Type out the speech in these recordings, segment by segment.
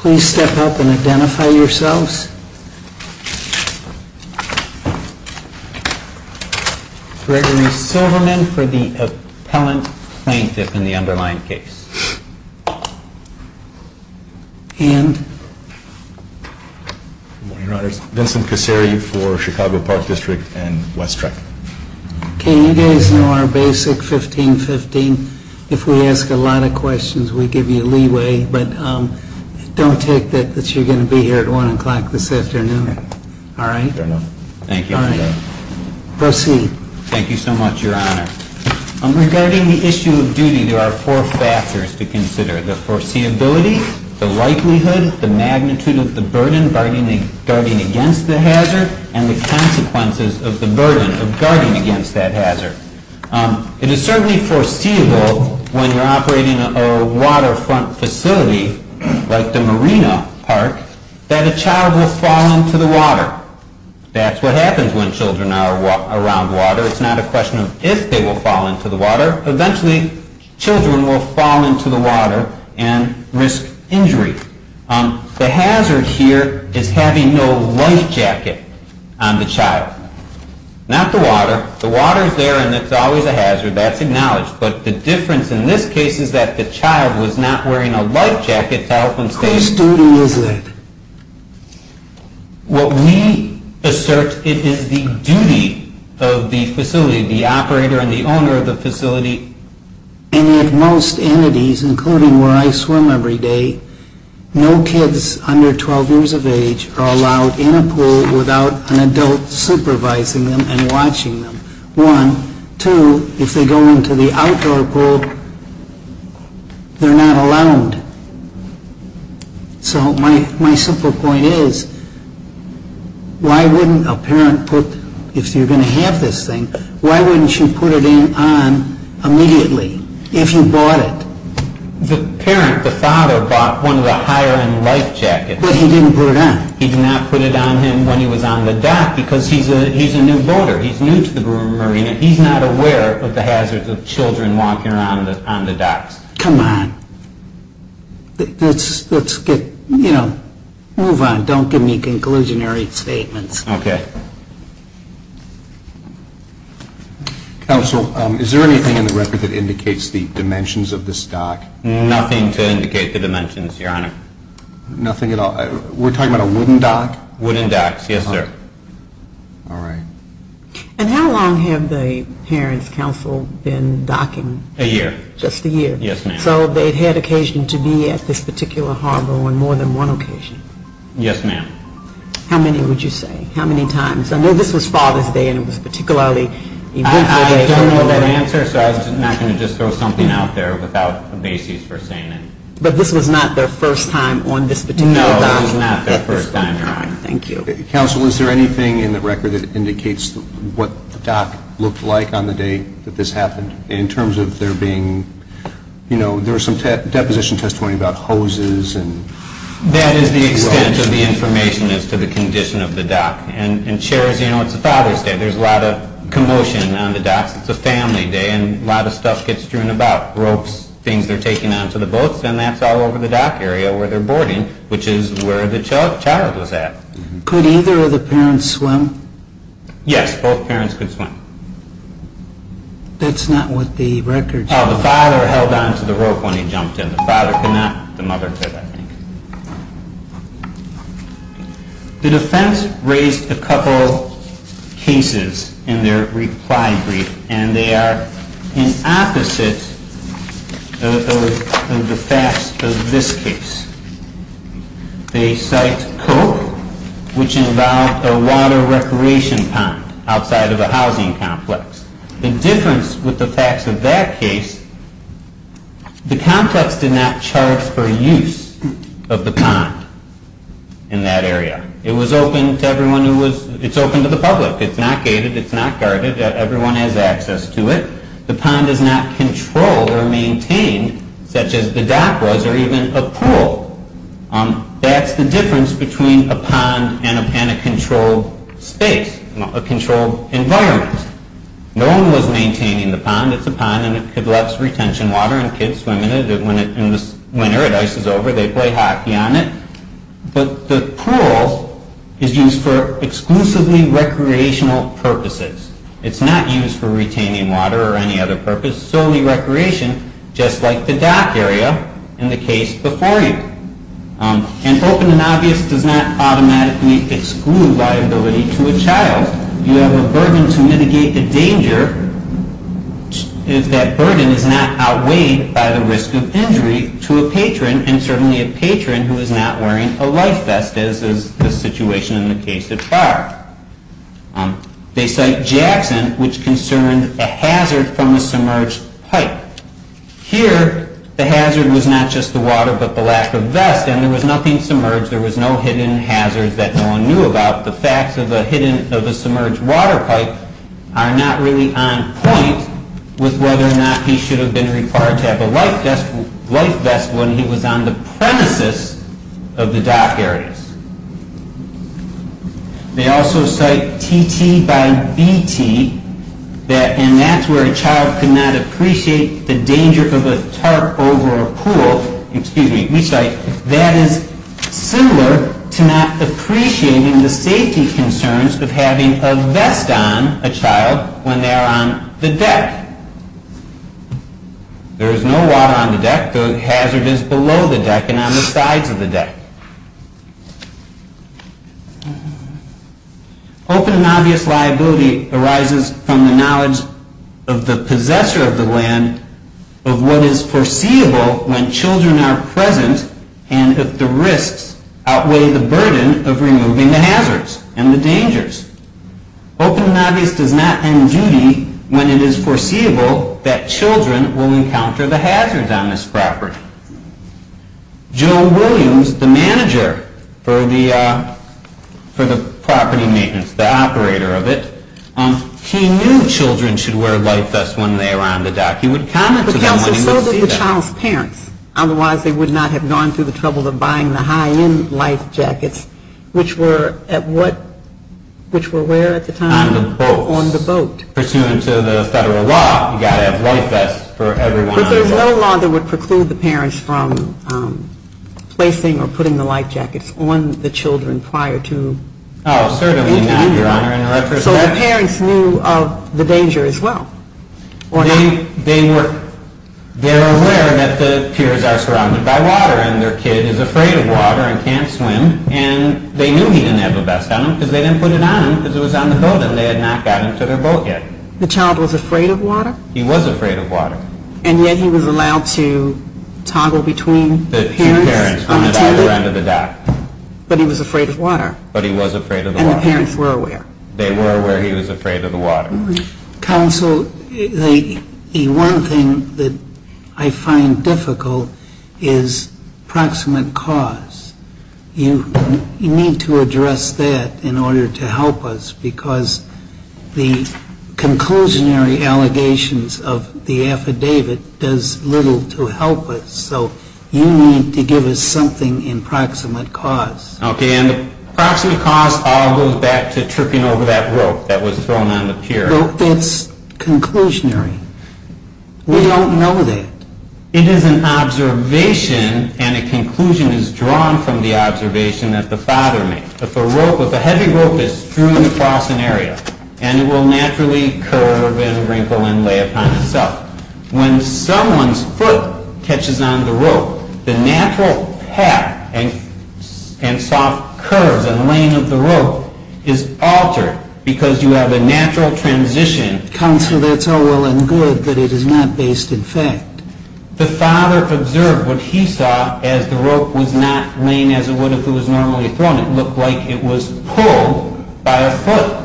Please step up and identify yourselves. Gregory Silverman for the appellant plaintiff in the underlying case. Vincent Cassari for Chicago Park District and West Trek. Can you guys know our basic 1515? If we ask a lot of questions, we give you leeway, but don't take that you're going to be here at 1 o'clock this afternoon. All right. Thank you. Proceed. Thank you so much, Your Honor. Regarding the issue of duty, there are four factors to consider. The foreseeability, the likelihood, the magnitude of the burden guarding against the hazard, and the consequences of the burden of guarding against that hazard. It is certainly foreseeable when you're operating a waterfront facility like the Marina Park that a child will fall into the water. That's what happens when children are around water. It's not a question of if they will fall into the water. Eventually, children will fall into the water and risk injury. The hazard here is having no life jacket on the child. Not the water. The water is there and it's always a hazard. That's acknowledged. But the difference in this case is that the child was not wearing a life jacket to help him stand up. Whose duty is that? What we assert, it is the duty of the facility, the operator and the owner of the facility. And at most entities, including where I swim every day, no kids under 12 years of age are allowed in a pool without an adult supervising them and watching them. One. Two, if they go into the outdoor pool, they're not allowed. So my simple point is, if you're going to have this thing, why wouldn't you put it on immediately if you bought it? The parent, the father, bought one of the higher end life jackets. But he didn't put it on. He did not put it on him when he was on the dock because he's a new boater. He's new to the Marina. He's not aware of the hazards of children walking around on the docks. Come on. Let's get, you know, move on. Don't give me conclusionary statements. Okay. Counsel, is there anything in the record that indicates the dimensions of this dock? Nothing to indicate the dimensions, Your Honor. Nothing at all? We're talking about a wooden dock? Wooden docks, yes, sir. All right. And how long have the parents' counsel been docking? A year. Just a year? Yes, ma'am. So they've had occasion to be at this particular harbor on more than one occasion? Yes, ma'am. How many would you say? How many times? I know this was Father's Day and it was particularly eventful. I don't know the answer, so I'm not going to just throw something out there without a basis for saying it. But this was not their first time on this particular dock? No, this was not their first time, Your Honor. Thank you. Counsel, is there anything in the record that indicates what the dock looked like on the day that this happened? In terms of there being, you know, there was some deposition testimony about hoses and... That is the extent of the information as to the condition of the dock. And, Chair, as you know, it's Father's Day. There's a lot of commotion on the docks. It's a family day and a lot of stuff gets strewn about, ropes, things they're taking onto the boats, and that's all over the dock area where they're boarding, which is where the child was at. Could either of the parents swim? Yes, both parents could swim. That's not what the record says. Oh, the father held onto the rope when he jumped in. The father could not. The mother could, I think. The defense raised a couple cases in their reply brief, and they are in opposite of the facts of this case. They cite Coke, which involved a water recreation pond outside of a housing complex. The difference with the facts of that case, the complex did not charge for use of the pond in that area. It was open to everyone who was... It's open to the public. It's not gated. It's not guarded. Everyone has access to it. The pond is not controlled or maintained, such as the dock was, or even a pool. That's the difference between a pond and a controlled space, a controlled environment. No one was maintaining the pond. It's a pond, and it lets retention water, and kids swim in it. In the winter, it ices over. They play hockey on it. But the pool is used for exclusively recreational purposes. It's not used for retaining water or any other purpose. Solely recreation, just like the dock area in the case before you. And open and obvious does not automatically exclude liability to a child. You have a burden to mitigate the danger. That burden is not outweighed by the risk of injury to a patron, and certainly a patron who is not wearing a life vest, as is the situation in the case of Barb. They cite Jackson, which concerned a hazard from a submerged pipe. Here, the hazard was not just the water, but the lack of vest. And there was nothing submerged. There was no hidden hazard that no one knew about. The facts of a submerged water pipe are not really on point with whether or not he should have been required to have a life vest when he was on the premises of the dock areas. They also cite T.T. by B.T., and that's where a child could not appreciate the danger of a tarp over a pool. Excuse me. We cite that as similar to not appreciating the safety concerns of having a vest on a child when they're on the deck. There is no water on the deck. The hazard is below the deck and on the sides of the deck. Open and obvious liability arises from the knowledge of the possessor of the land of what is foreseeable when children are present and if the risks outweigh the burden of removing the hazards and the dangers. Open and obvious does not end duty when it is foreseeable that children will encounter the hazards on this property. Joe Williams, the manager for the property maintenance, the operator of it, he knew children should wear life vests when they were on the dock. He would comment to them when he would see them. But, Counselor, so did the child's parents. Otherwise, they would not have gone through the trouble of buying the high-end life jackets, which were where at the time? On the boat. On the boat. Pursuant to the federal law, you've got to have life vests for everyone on the boat. But there's no law that would preclude the parents from placing or putting the life jackets on the children prior to? Oh, certainly not, Your Honor, in retrospect. So the parents knew of the danger as well? They were aware that the piers are surrounded by water and their kid is afraid of water and can't swim and they knew he didn't have a vest on him because they didn't put it on him because it was on the boat and they had not gotten to their boat yet. The child was afraid of water? He was afraid of water. And yet he was allowed to toggle between the piers? The two parents on either end of the dock. But he was afraid of water? But he was afraid of the water. And the parents were aware? They were aware he was afraid of the water. Counsel, the one thing that I find difficult is proximate cause. You need to address that in order to help us because the conclusionary allegations of the affidavit does little to help us. So you need to give us something in proximate cause. Okay, and the proximate cause all goes back to tripping over that rope that was thrown on the pier. That's conclusionary. We don't know that. It is an observation and a conclusion is drawn from the observation that the father made. If a rope, if a heavy rope is strewn across an area and it will naturally curve and wrinkle and lay upon itself, when someone's foot catches on the rope, the natural path and soft curves and lane of the rope is altered because you have a natural transition. Counsel, that's all well and good, but it is not based in fact. The father observed what he saw as the rope was not laying as it would if it was normally thrown. It looked like it was pulled by a foot.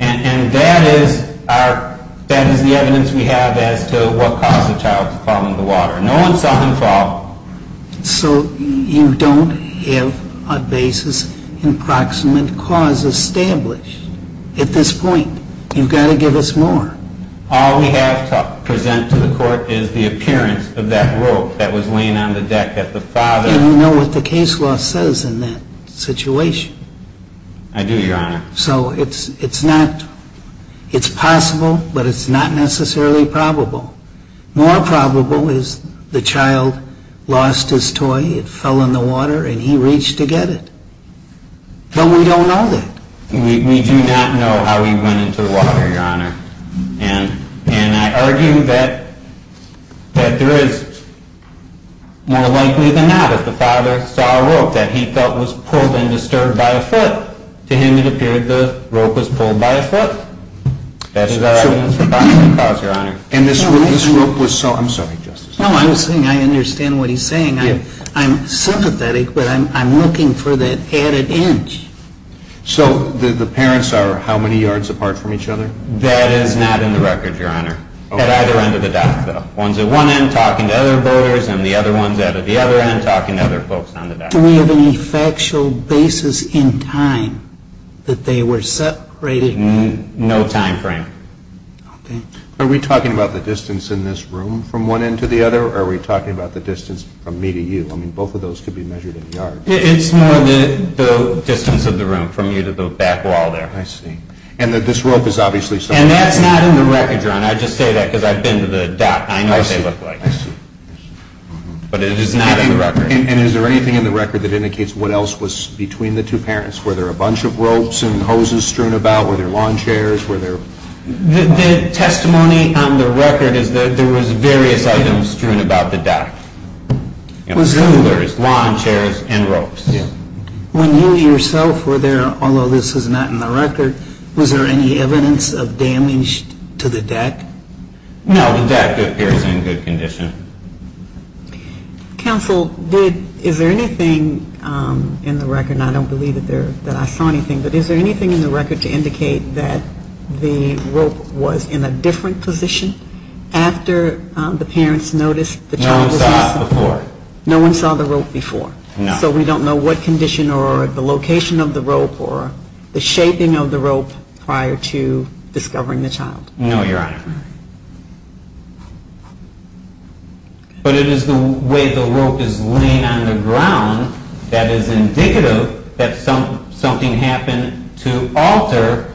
And that is our, that is the evidence we have as to what caused the child to fall into the water. No one saw him fall. So you don't have a basis in proximate cause established at this point. You've got to give us more. All we have to present to the court is the appearance of that rope that was laying on the deck at the father. And you know what the case law says in that situation. I do, Your Honor. So it's not, it's possible, but it's not necessarily probable. More probable is the child lost his toy, it fell in the water, and he reached to get it. But we don't know that. We do not know how he went into the water, Your Honor. And I argue that there is more likely than not that the father saw a rope that he felt was pulled and disturbed by a foot. To him it appeared the rope was pulled by a foot. That's our evidence for proximate cause, Your Honor. And this rope was so, I'm sorry, Justice. No, I understand what he's saying. I'm sympathetic, but I'm looking for that added inch. So the parents are how many yards apart from each other? That is not in the record, Your Honor. At either end of the dock, though. One's at one end talking to other boaters, and the other one's at the other end talking to other folks on the dock. Do we have any factual basis in time that they were separated? No time frame. Are we talking about the distance in this room from one end to the other? Or are we talking about the distance from me to you? I mean, both of those could be measured in yards. It's more the distance of the room from you to the back wall there. I see. And this rope is obviously stolen. And that's not in the record, Your Honor. I just say that because I've been to the dock, and I know what they look like. I see. But it is not in the record. And is there anything in the record that indicates what else was between the two parents? Were there a bunch of ropes and hoses strewn about? Were there lawn chairs? Were there? The testimony on the record is that there was various items strewn about the dock. Was there? There was lawn chairs and ropes. When you yourself were there, although this was not in the record, was there any evidence of damage to the deck? No, the deck appears in good condition. Counsel, is there anything in the record? And I don't believe that I saw anything. But is there anything in the record to indicate that the rope was in a different position after the parents noticed the child was missing? No one saw it before. No one saw the rope before? No. So we don't know what condition or the location of the rope or the shaping of the rope prior to discovering the child? No, Your Honor. But it is the way the rope is laying on the ground that is indicative that something happened to alter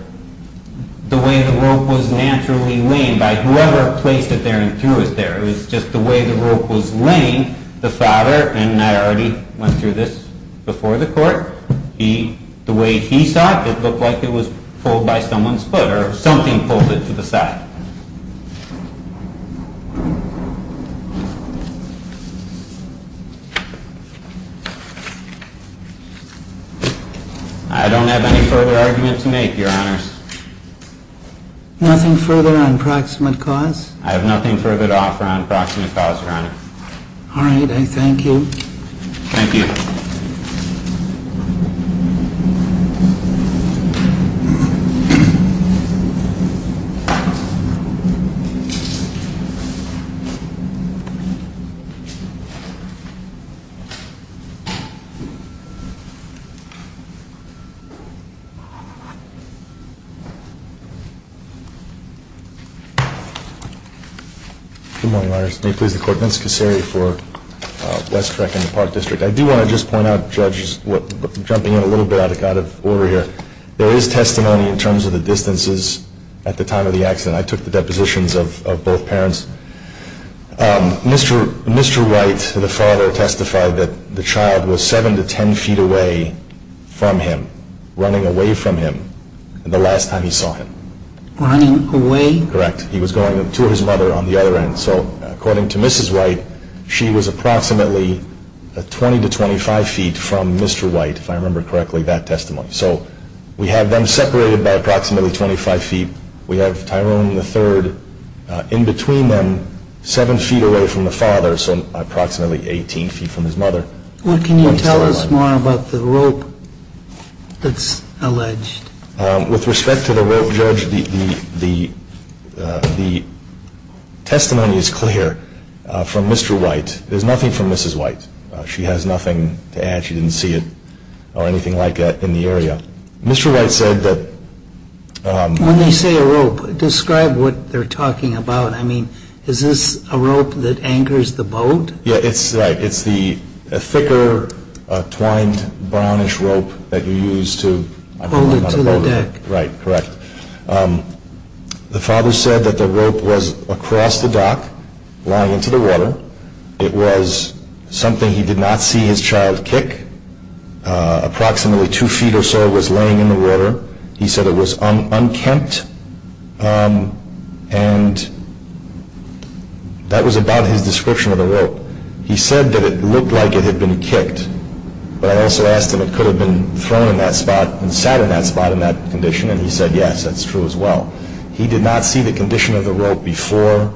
the way the rope was naturally laying by whoever placed it there and threw it there. It was just the way the rope was laying, the father, and I already went through this before the court, the way he saw it, it looked like it was pulled by someone's foot or something pulled it to the side. I don't have any further argument to make, Your Honors. Nothing further on proximate cause? I have nothing further to offer on proximate cause, Your Honor. All right, I thank you. Thank you. Good morning, Your Honors. May it please the court, Vince Kacseri for West Trek in the Park District. I do want to just point out, judge, jumping in a little bit out of order here, there is testimony in terms of the distances at the time of the accident. I took the depositions of both parents. Mr. White, the father, testified that the child was 7 to 10 feet away from him, running away from him the last time he saw him. Running away? Correct. He was going to his mother on the other end. So according to Mrs. White, she was approximately 20 to 25 feet from Mr. White, if I remember correctly, that testimony. So we have them separated by approximately 25 feet. We have Tyrone III in between them, 7 feet away from the father, so approximately 18 feet from his mother. What can you tell us more about the rope that's alleged? With respect to the rope, judge, the testimony is clear from Mr. White. There's nothing from Mrs. White. She has nothing to add. She didn't see it or anything like that in the area. Mr. White said that... When they say a rope, describe what they're talking about. I mean, is this a rope that anchors the boat? Yeah, it's the thicker, twined, brownish rope that you use to... Hold it to the deck. Right, correct. The father said that the rope was across the dock, lying into the water. It was something he did not see his child kick. Approximately 2 feet or so was laying in the water. He said it was unkempt, and that was about his description of the rope. He said that it looked like it had been kicked. But I also asked him if it could have been thrown in that spot and sat in that spot in that condition, and he said yes, that's true as well. He did not see the condition of the rope before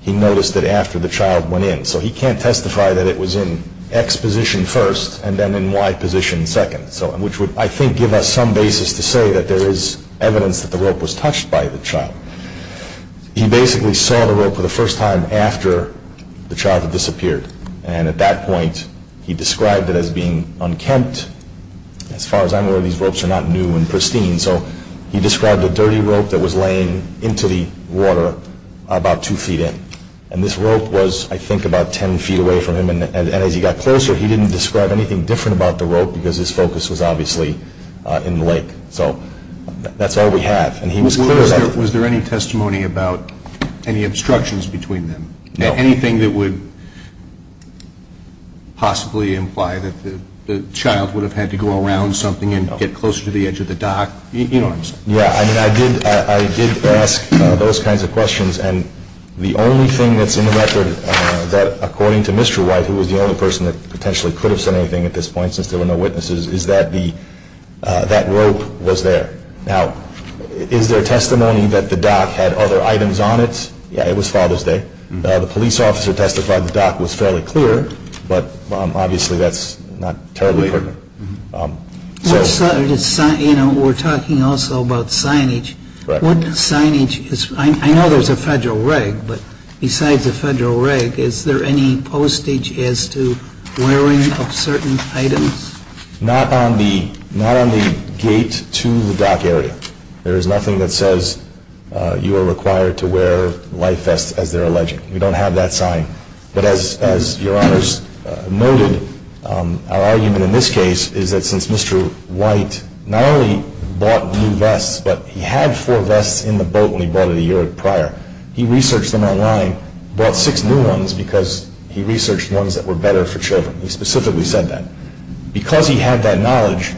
he noticed it after the child went in. So he can't testify that it was in X position first and then in Y position second, which would, I think, give us some basis to say that there is evidence that the rope was touched by the child. He basically saw the rope for the first time after the child had disappeared, and at that point he described it as being unkempt. As far as I'm aware, these ropes are not new and pristine, so he described a dirty rope that was laying into the water about 2 feet in. And this rope was, I think, about 10 feet away from him, and as he got closer he didn't describe anything different about the rope because his focus was obviously in the lake. So that's all we have, and he was clear about it. Was there any testimony about any obstructions between them? No. Anything that would possibly imply that the child would have had to go around something and get closer to the edge of the dock? Yeah, I did ask those kinds of questions, and the only thing that's in the record that, according to Mr. White, who was the only person that potentially could have said anything at this point since there were no witnesses, is that that rope was there. Now, is there testimony that the dock had other items on it? Yeah, it was Father's Day. The police officer testified the dock was fairly clear, but obviously that's not terribly clear. We're talking also about signage. What signage is, I know there's a federal reg, but besides the federal reg, is there any postage as to wearing of certain items? Not on the gate to the dock area. There is nothing that says you are required to wear life vests, as they're alleging. We don't have that sign. But as Your Honors noted, our argument in this case is that since Mr. White not only bought new vests, but he had four vests in the boat when he bought it a year prior. He researched them online, bought six new ones because he researched ones that were better for children. He specifically said that. Because he had that knowledge,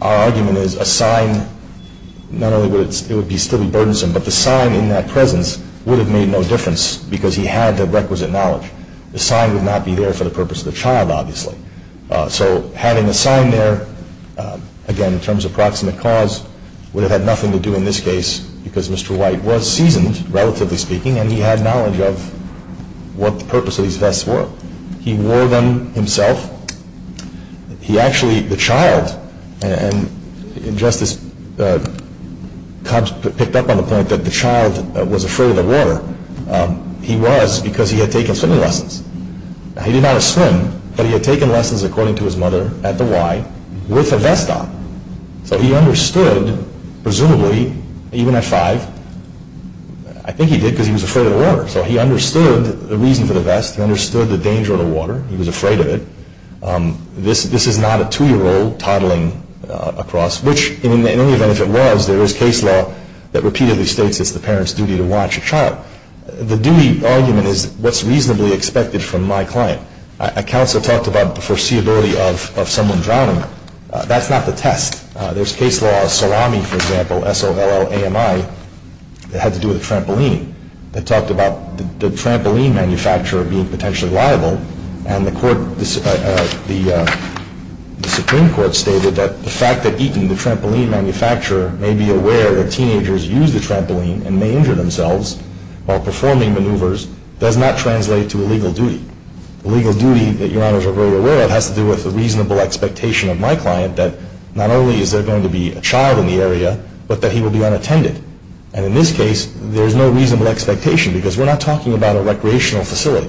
our argument is a sign, not only would it still be burdensome, but the sign in that presence would have made no difference because he had that requisite knowledge. The sign would not be there for the purpose of the child, obviously. So having the sign there, again, in terms of proximate cause, would have had nothing to do in this case because Mr. White was seasoned, relatively speaking, and he had knowledge of what the purpose of these vests were. He wore them himself. He actually, the child, and Justice Cobbs picked up on the point that the child was afraid of the water. He was because he had taken swimming lessons. He did not swim, but he had taken lessons, according to his mother, at the Y, with a vest on. So he understood, presumably, even at five, I think he did because he was afraid of the water. So he understood the reason for the vest. He understood the danger of the water. He was afraid of it. This is not a two-year-old toddling across, which, in any event, if it was, there is case law that repeatedly states it's the parent's duty to watch a child. The duty argument is what's reasonably expected from my client. A counselor talked about the foreseeability of someone drowning. That's not the test. There's case law, Salami, for example, S-O-L-L-A-M-I, that had to do with a trampoline. They talked about the trampoline manufacturer being potentially liable, and the Supreme Court stated that the fact that Eaton, the trampoline manufacturer, may be aware that teenagers use the trampoline and may injure themselves while performing maneuvers does not translate to a legal duty. The legal duty that Your Honors are very aware of has to do with the reasonable expectation of my client that not only is there going to be a child in the area, but that he will be unattended. And in this case, there's no reasonable expectation because we're not talking about a recreational facility.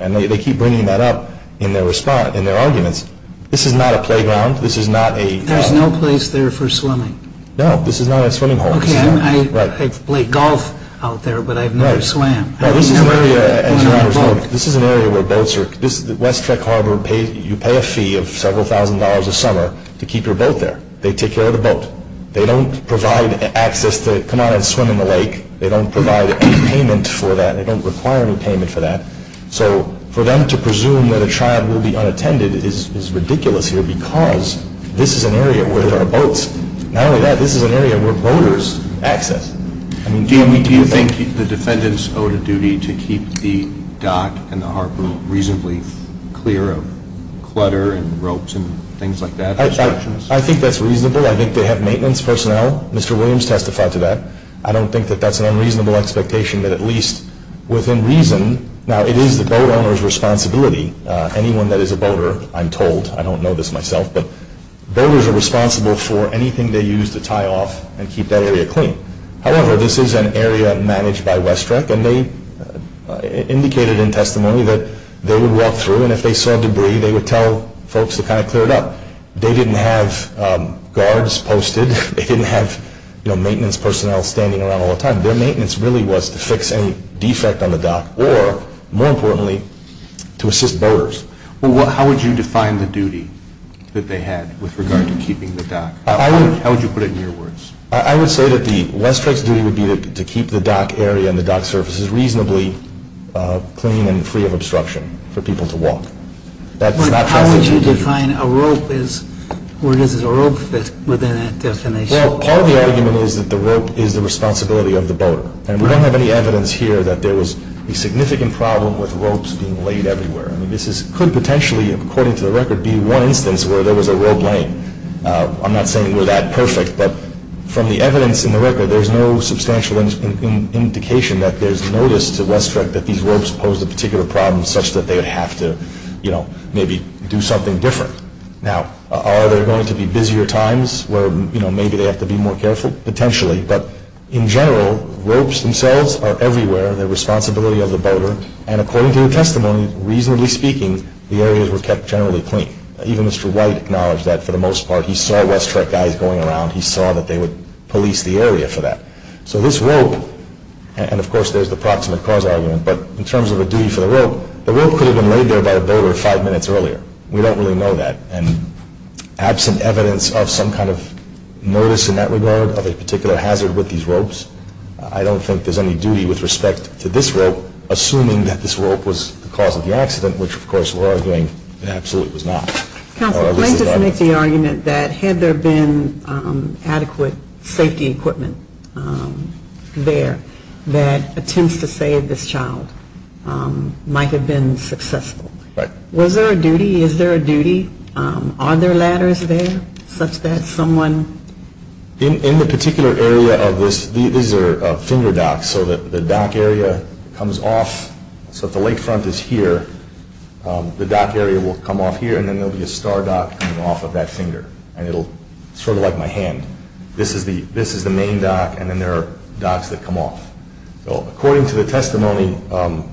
And they keep bringing that up in their arguments. This is not a playground. This is not a... There's no place there for swimming. No, this is not a swimming hole. Okay, I play golf out there, but I've never swam. No, this is an area, as Your Honors know, this is an area where boats are... West Trek Harbor, you pay a fee of several thousand dollars a summer to keep your boat there. They take care of the boat. They don't provide access to come out and swim in the lake. They don't provide any payment for that. They don't require any payment for that. So for them to presume that a child will be unattended is ridiculous here because this is an area where there are boats. Not only that, this is an area where boaters access. Do you think the defendants owe a duty to keep the dock and the harbor reasonably clear of clutter and ropes and things like that? I think that's reasonable. I think they have maintenance personnel. Mr. Williams testified to that. I don't think that that's an unreasonable expectation that at least within reason... Now, it is the boat owner's responsibility. Anyone that is a boater, I'm told, I don't know this myself, but boaters are responsible for anything they use to tie off and keep that area clean. However, this is an area managed by West Trek, and they indicated in testimony that they would walk through, and if they saw debris, they would tell folks to kind of clear it up. They didn't have guards posted. They didn't have maintenance personnel standing around all the time. Their maintenance really was to fix any defect on the dock or, more importantly, to assist boaters. Well, how would you define the duty that they had with regard to keeping the dock? How would you put it in your words? I would say that the West Trek's duty would be to keep the dock area and the dock surfaces reasonably clean and free of obstruction for people to walk. How would you define a rope? Where does a rope fit within that definition? Well, part of the argument is that the rope is the responsibility of the boater, and we don't have any evidence here that there was a significant problem with ropes being laid everywhere. This could potentially, according to the record, be one instance where there was a rope laying. I'm not saying we're that perfect, but from the evidence in the record, there's no substantial indication that there's notice to West Trek that these ropes posed a particular problem such that they would have to maybe do something different. Now, are there going to be busier times where maybe they have to be more careful? Potentially, but in general, ropes themselves are everywhere. They're the responsibility of the boater, and according to the testimony, reasonably speaking, the areas were kept generally clean. Even Mr. White acknowledged that for the most part. He saw West Trek guys going around. He saw that they would police the area for that. So this rope, and of course there's the proximate cause argument, but in terms of a duty for the rope, the rope could have been laid there by the boater five minutes earlier. We don't really know that. And absent evidence of some kind of notice in that regard of a particular hazard with these ropes, I don't think there's any duty with respect to this rope, assuming that this rope was the cause of the accident, which of course we're arguing absolutely was not. Counsel, I just want to make the argument that had there been adequate safety equipment there that attempts to save this child might have been successful. Was there a duty? Is there a duty? Are there ladders there such that someone? In the particular area of this, these are finger docks, so the dock area comes off. So if the lakefront is here, the dock area will come off here, and then there'll be a star dock coming off of that finger, and it'll sort of like my hand. This is the main dock, and then there are docks that come off. So according to the testimony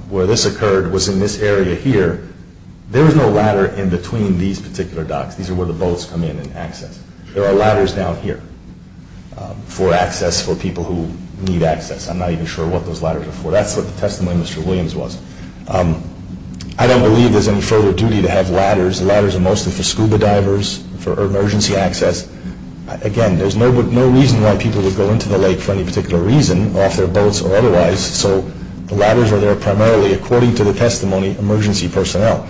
where this occurred was in this area here, there was no ladder in between these particular docks. These are where the boats come in and access. There are ladders down here for access for people who need access. I'm not even sure what those ladders are for. That's what the testimony of Mr. Williams was. I don't believe there's any further duty to have ladders. Ladders are mostly for scuba divers, for emergency access. Again, there's no reason why people would go into the lake for any particular reason, off their boats or otherwise, so the ladders are there primarily, according to the testimony, emergency personnel.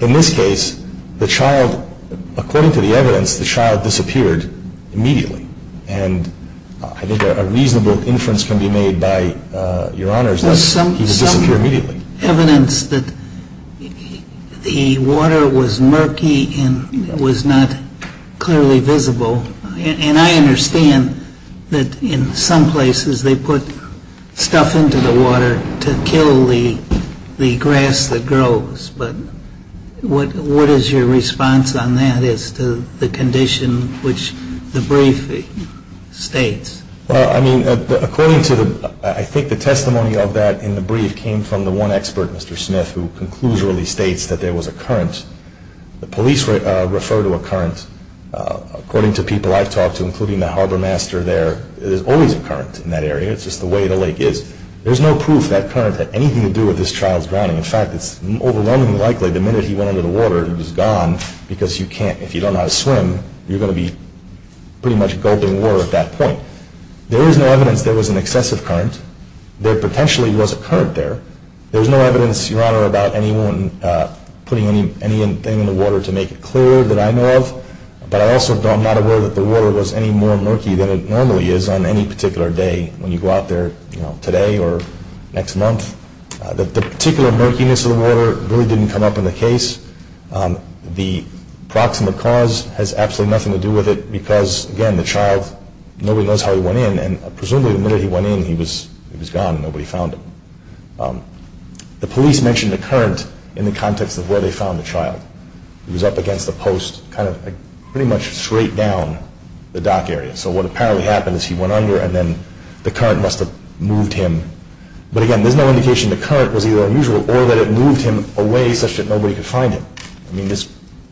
In this case, according to the evidence, the child disappeared immediately, and I think a reasonable inference can be made by Your Honors that he disappeared immediately. There's some evidence that the water was murky and was not clearly visible, and I understand that in some places they put stuff into the water to kill the grass that grows, but what is your response on that as to the condition which the brief states? I think the testimony of that in the brief came from the one expert, Mr. Smith, who conclusively states that there was a current. The police refer to a current. According to people I've talked to, including the harbormaster there, there's always a current in that area. It's just the way the lake is. There's no proof that current had anything to do with this child's drowning. In fact, it's overwhelmingly likely the minute he went under the water, he was gone, because if you don't know how to swim, you're going to be pretty much gulping water at that point. There is no evidence there was an excessive current. There potentially was a current there. There's no evidence, Your Honor, about anyone putting anything in the water to make it clear that I know of, but I also am not aware that the water was any more murky than it normally is on any particular day, when you go out there today or next month. The particular murkiness of the water really didn't come up in the case. The proximate cause has absolutely nothing to do with it, because, again, the child, nobody knows how he went in, and presumably the minute he went in, he was gone and nobody found him. The police mentioned a current in the context of where they found the child. He was up against a post, kind of pretty much straight down the dock area. So what apparently happened is he went under, and then the current must have moved him. But, again, there's no indication the current was either unusual, or that it moved him away such that nobody could find him. I mean, this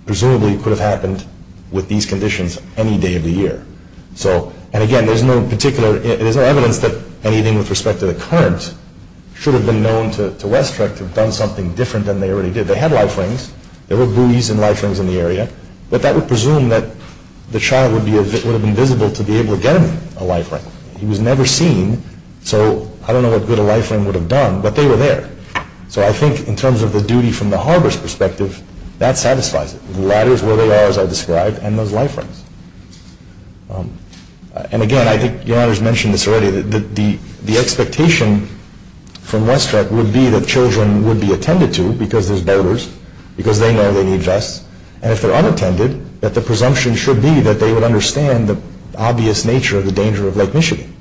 presumably could have happened with these conditions any day of the year. And, again, there's no evidence that anything with respect to the current should have been known to West Trek to have done something different than they already did. They had life rings. There were buoys and life rings in the area, but that would presume that the child would have been visible to be able to get him a life ring. He was never seen, so I don't know what good a life ring would have done, but they were there. So I think in terms of the duty from the harbor's perspective, that satisfies it. The ladders where they are, as I described, and those life rings. And, again, I think Your Honor's mentioned this already, that the expectation from West Trek would be that children would be attended to, because there's boaters, because they know they need vests, and if they're unattended, that the presumption should be that they would understand the obvious nature of the danger of Lake Michigan.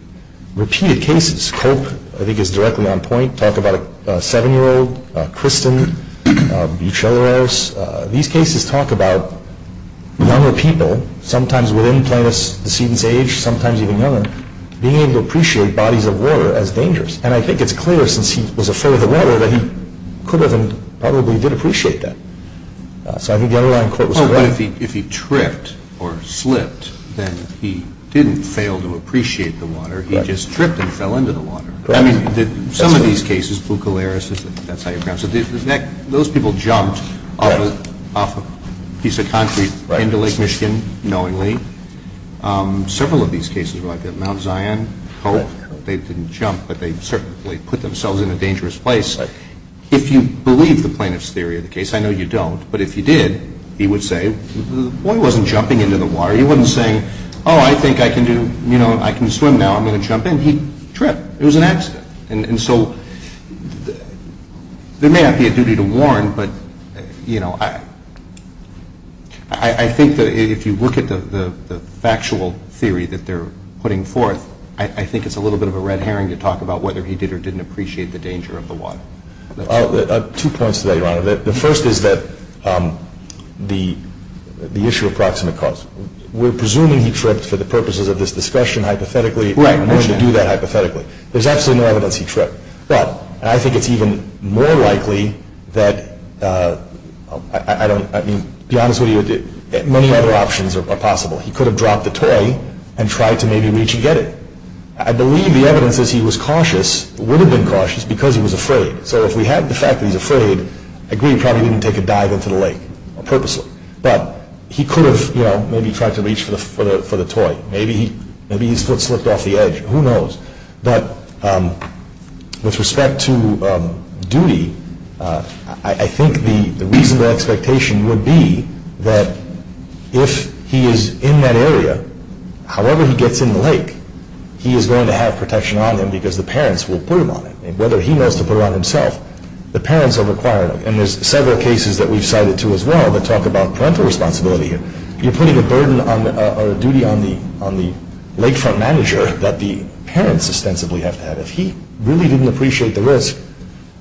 Repeated cases. Culp, I think, is directly on point. Talk about a seven-year-old. Kristen. Bucheleros. These cases talk about younger people, sometimes within the decedent's age, sometimes even younger, being able to appreciate bodies of water as dangerous. And I think it's clear, since he was afraid of the water, that he could have and probably did appreciate that. So I think the underlying court was correct. But if he tripped or slipped, then he didn't fail to appreciate the water. He just tripped and fell into the water. Some of these cases, Bucheleros, that's how you pronounce it, those people jumped off a piece of concrete into Lake Michigan knowingly. Several of these cases were like that. Mount Zion, Cope, they didn't jump, but they certainly put themselves in a dangerous place. If you believe the plaintiff's theory of the case, I know you don't, but if you did, he would say, well, he wasn't jumping into the water. He wasn't saying, oh, I think I can swim now, I'm going to jump in. He tripped. It was an accident. And so there may not be a duty to warn, but I think that if you look at the factual theory that they're putting forth, I think it's a little bit of a red herring to talk about whether he did or didn't appreciate the danger of the water. Two points to that, Your Honor. The first is that the issue of proximate cause. We're presuming he tripped for the purposes of this discussion hypothetically. Right. I'm going to do that hypothetically. There's absolutely no evidence he tripped. But I think it's even more likely that I don't, I mean, to be honest with you, many other options are possible. He could have dropped the toy and tried to maybe reach and get it. I believe the evidence is he was cautious, would have been cautious, because he was afraid. So if we have the fact that he's afraid, I agree he probably didn't take a dive into the lake purposely. But he could have maybe tried to reach for the toy. Maybe his foot slipped off the edge. Who knows? But with respect to duty, I think the reasonable expectation would be that if he is in that area, however he gets in the lake, he is going to have protection on him because the parents will put him on it. Whether he knows to put it on himself, the parents are required. And there's several cases that we've cited, too, as well that talk about parental responsibility here. You're putting a burden or a duty on the lakefront manager that the parents ostensibly have to have. If he really didn't appreciate the risk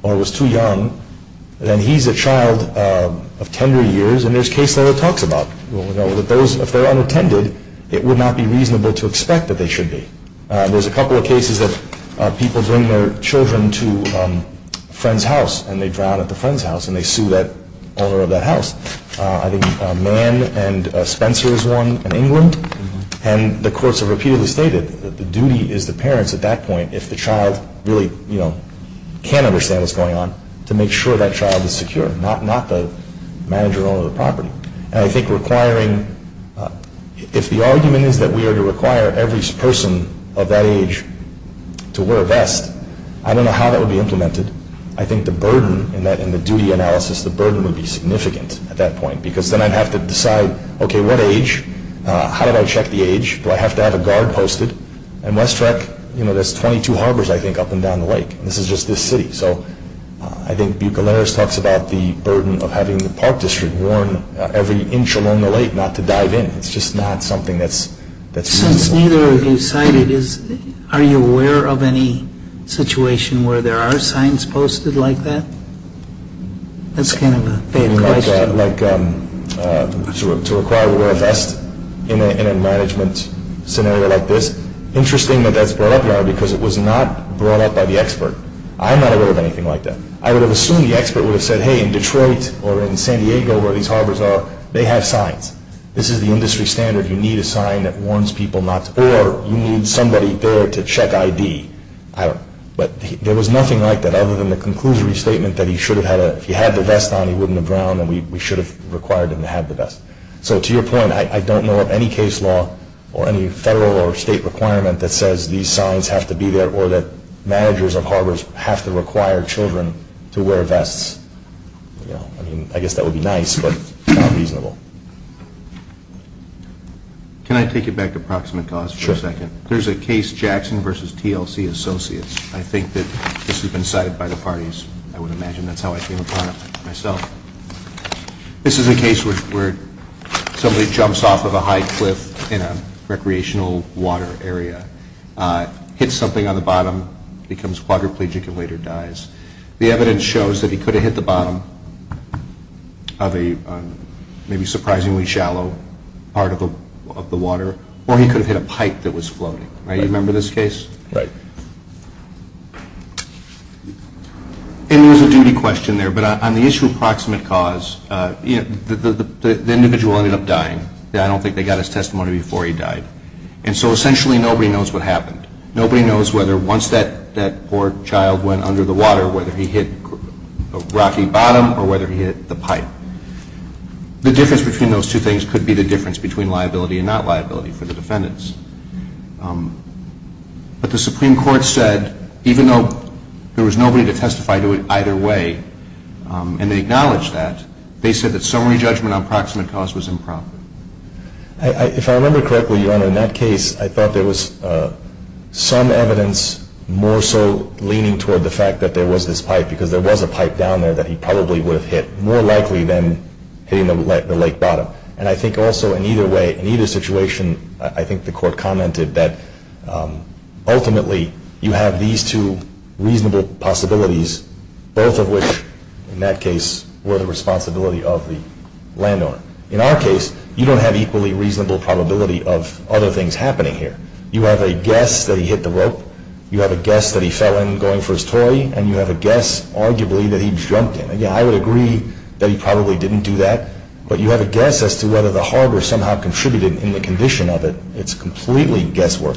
or was too young, then he's a child of tender years, and there's case law that talks about, you know, that those, if they're unattended, it would not be reasonable to expect that they should be. There's a couple of cases that people bring their children to a friend's house, and they drown at the friend's house, and they sue that owner of that house. I think Mann and Spencer is one in England. And the courts have repeatedly stated that the duty is the parents at that point, if the child really, you know, can't understand what's going on, to make sure that child is secure, not the manager or owner of the property. And I think requiring, if the argument is that we are to require every person of that age to wear a vest, I don't know how that would be implemented. I think the burden in the duty analysis, the burden would be significant at that point, because then I'd have to decide, okay, what age? How do I check the age? Do I have to have a guard posted? And West Trek, you know, there's 22 harbors, I think, up and down the lake. This is just this city. So I think Bucoleros talks about the burden of having the park district warn every inch along the lake not to dive in. It's just not something that's reasonable. Since neither of you cited, are you aware of any situation where there are signs posted like that? That's kind of a big question. Like to require to wear a vest in a management scenario like this? Interesting that that's brought up now, because it was not brought up by the expert. I'm not aware of anything like that. I would have assumed the expert would have said, hey, in Detroit or in San Diego where these harbors are, they have signs. This is the industry standard. You need a sign that warns people not to, or you need somebody there to check ID. But there was nothing like that other than the conclusory statement that he should have had a, if he had the vest on, he wouldn't have drowned, and we should have required him to have the vest. So to your point, I don't know of any case law or any federal or state requirement that says these signs have to be there or that managers of harbors have to require children to wear vests. I guess that would be nice, but not reasonable. Can I take you back to proximate cause for a second? Sure. There's a case, Jackson v. TLC Associates. I think that this has been cited by the parties, I would imagine. That's how I came upon it myself. This is a case where somebody jumps off of a high cliff in a recreational water area, hits something on the bottom, becomes quadriplegic and later dies. The evidence shows that he could have hit the bottom of a maybe surprisingly shallow part of the water, or he could have hit a pipe that was floating. Right? You remember this case? Right. And there was a duty question there, but on the issue of proximate cause, the individual ended up dying. I don't think they got his testimony before he died. And so essentially nobody knows what happened. Nobody knows whether once that poor child went under the water, whether he hit a rocky bottom or whether he hit the pipe. The difference between those two things could be the difference between liability and not liability for the defendants. But the Supreme Court said, even though there was nobody to testify to it either way, and they acknowledged that, they said that summary judgment on proximate cause was improper. If I remember correctly, Your Honor, in that case, I thought there was some evidence more so leaning toward the fact that there was this pipe because there was a pipe down there that he probably would have hit, more likely than hitting the lake bottom. And I think also in either way, in either situation, I think the court commented that ultimately you have these two reasonable possibilities, both of which in that case were the responsibility of the landowner. In our case, you don't have equally reasonable probability of other things happening here. You have a guess that he hit the rope. You have a guess that he fell in going for his toy. And you have a guess, arguably, that he jumped in. Again, I would agree that he probably didn't do that. But you have a guess as to whether the hardware somehow contributed in the condition of it. It's completely guesswork.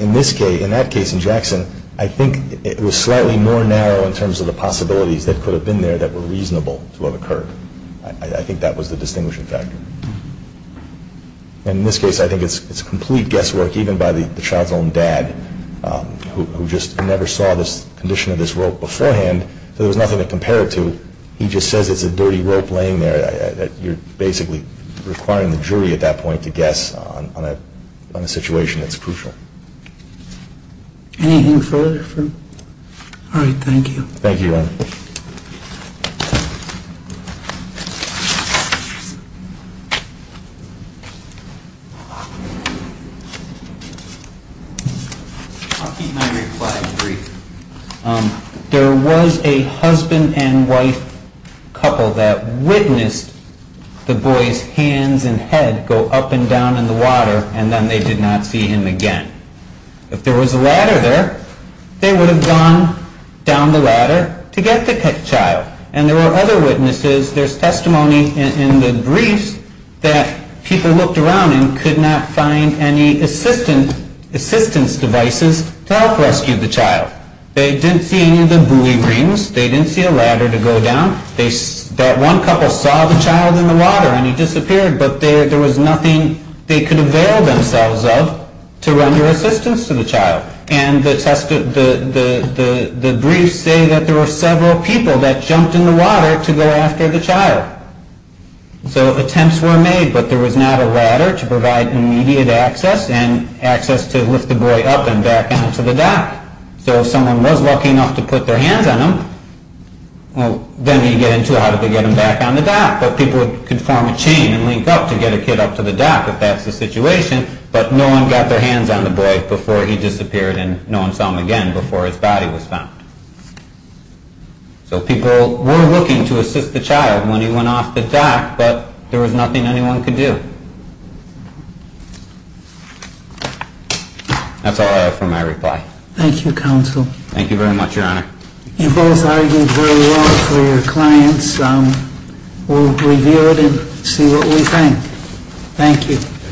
In this case, in that case in Jackson, I think it was slightly more narrow in terms of the possibilities that could have been there that were reasonable to have occurred. I think that was the distinguishing factor. And in this case, I think it's complete guesswork, even by the child's own dad who just never saw this condition of this rope beforehand. So there was nothing to compare it to. He just says it's a dirty rope laying there. You're basically requiring the jury at that point to guess on a situation that's crucial. All right, thank you. Thank you, Your Honor. Thank you. I'll keep my reply brief. There was a husband and wife couple that witnessed the boy's hands and head go up and down in the water, and then they did not see him again. If there was a ladder there, they would have gone down the ladder to get the child. And there were other witnesses. There's testimony in the briefs that people looked around and could not find any assistance devices to help rescue the child. They didn't see any of the buoy rings. They didn't see a ladder to go down. That one couple saw the child in the water and he disappeared, but there was nothing they could avail themselves of to render assistance to the child. And the briefs say that there were several people that jumped in the water to go after the child. So attempts were made, but there was not a ladder to provide immediate access and access to lift the boy up and back out to the dock. So if someone was lucky enough to put their hands on him, well, then he'd get in too hard to get him back on the dock. But people could form a chain and link up to get a kid up to the dock if that's the situation, but no one got their hands on the boy before he disappeared and no one saw him again before his body was found. So people were looking to assist the child when he went off the dock, but there was nothing anyone could do. That's all I have for my reply. Thank you, Counsel. Thank you very much, Your Honor. You both argued very well for your clients. We'll review it and see what we think. Thank you.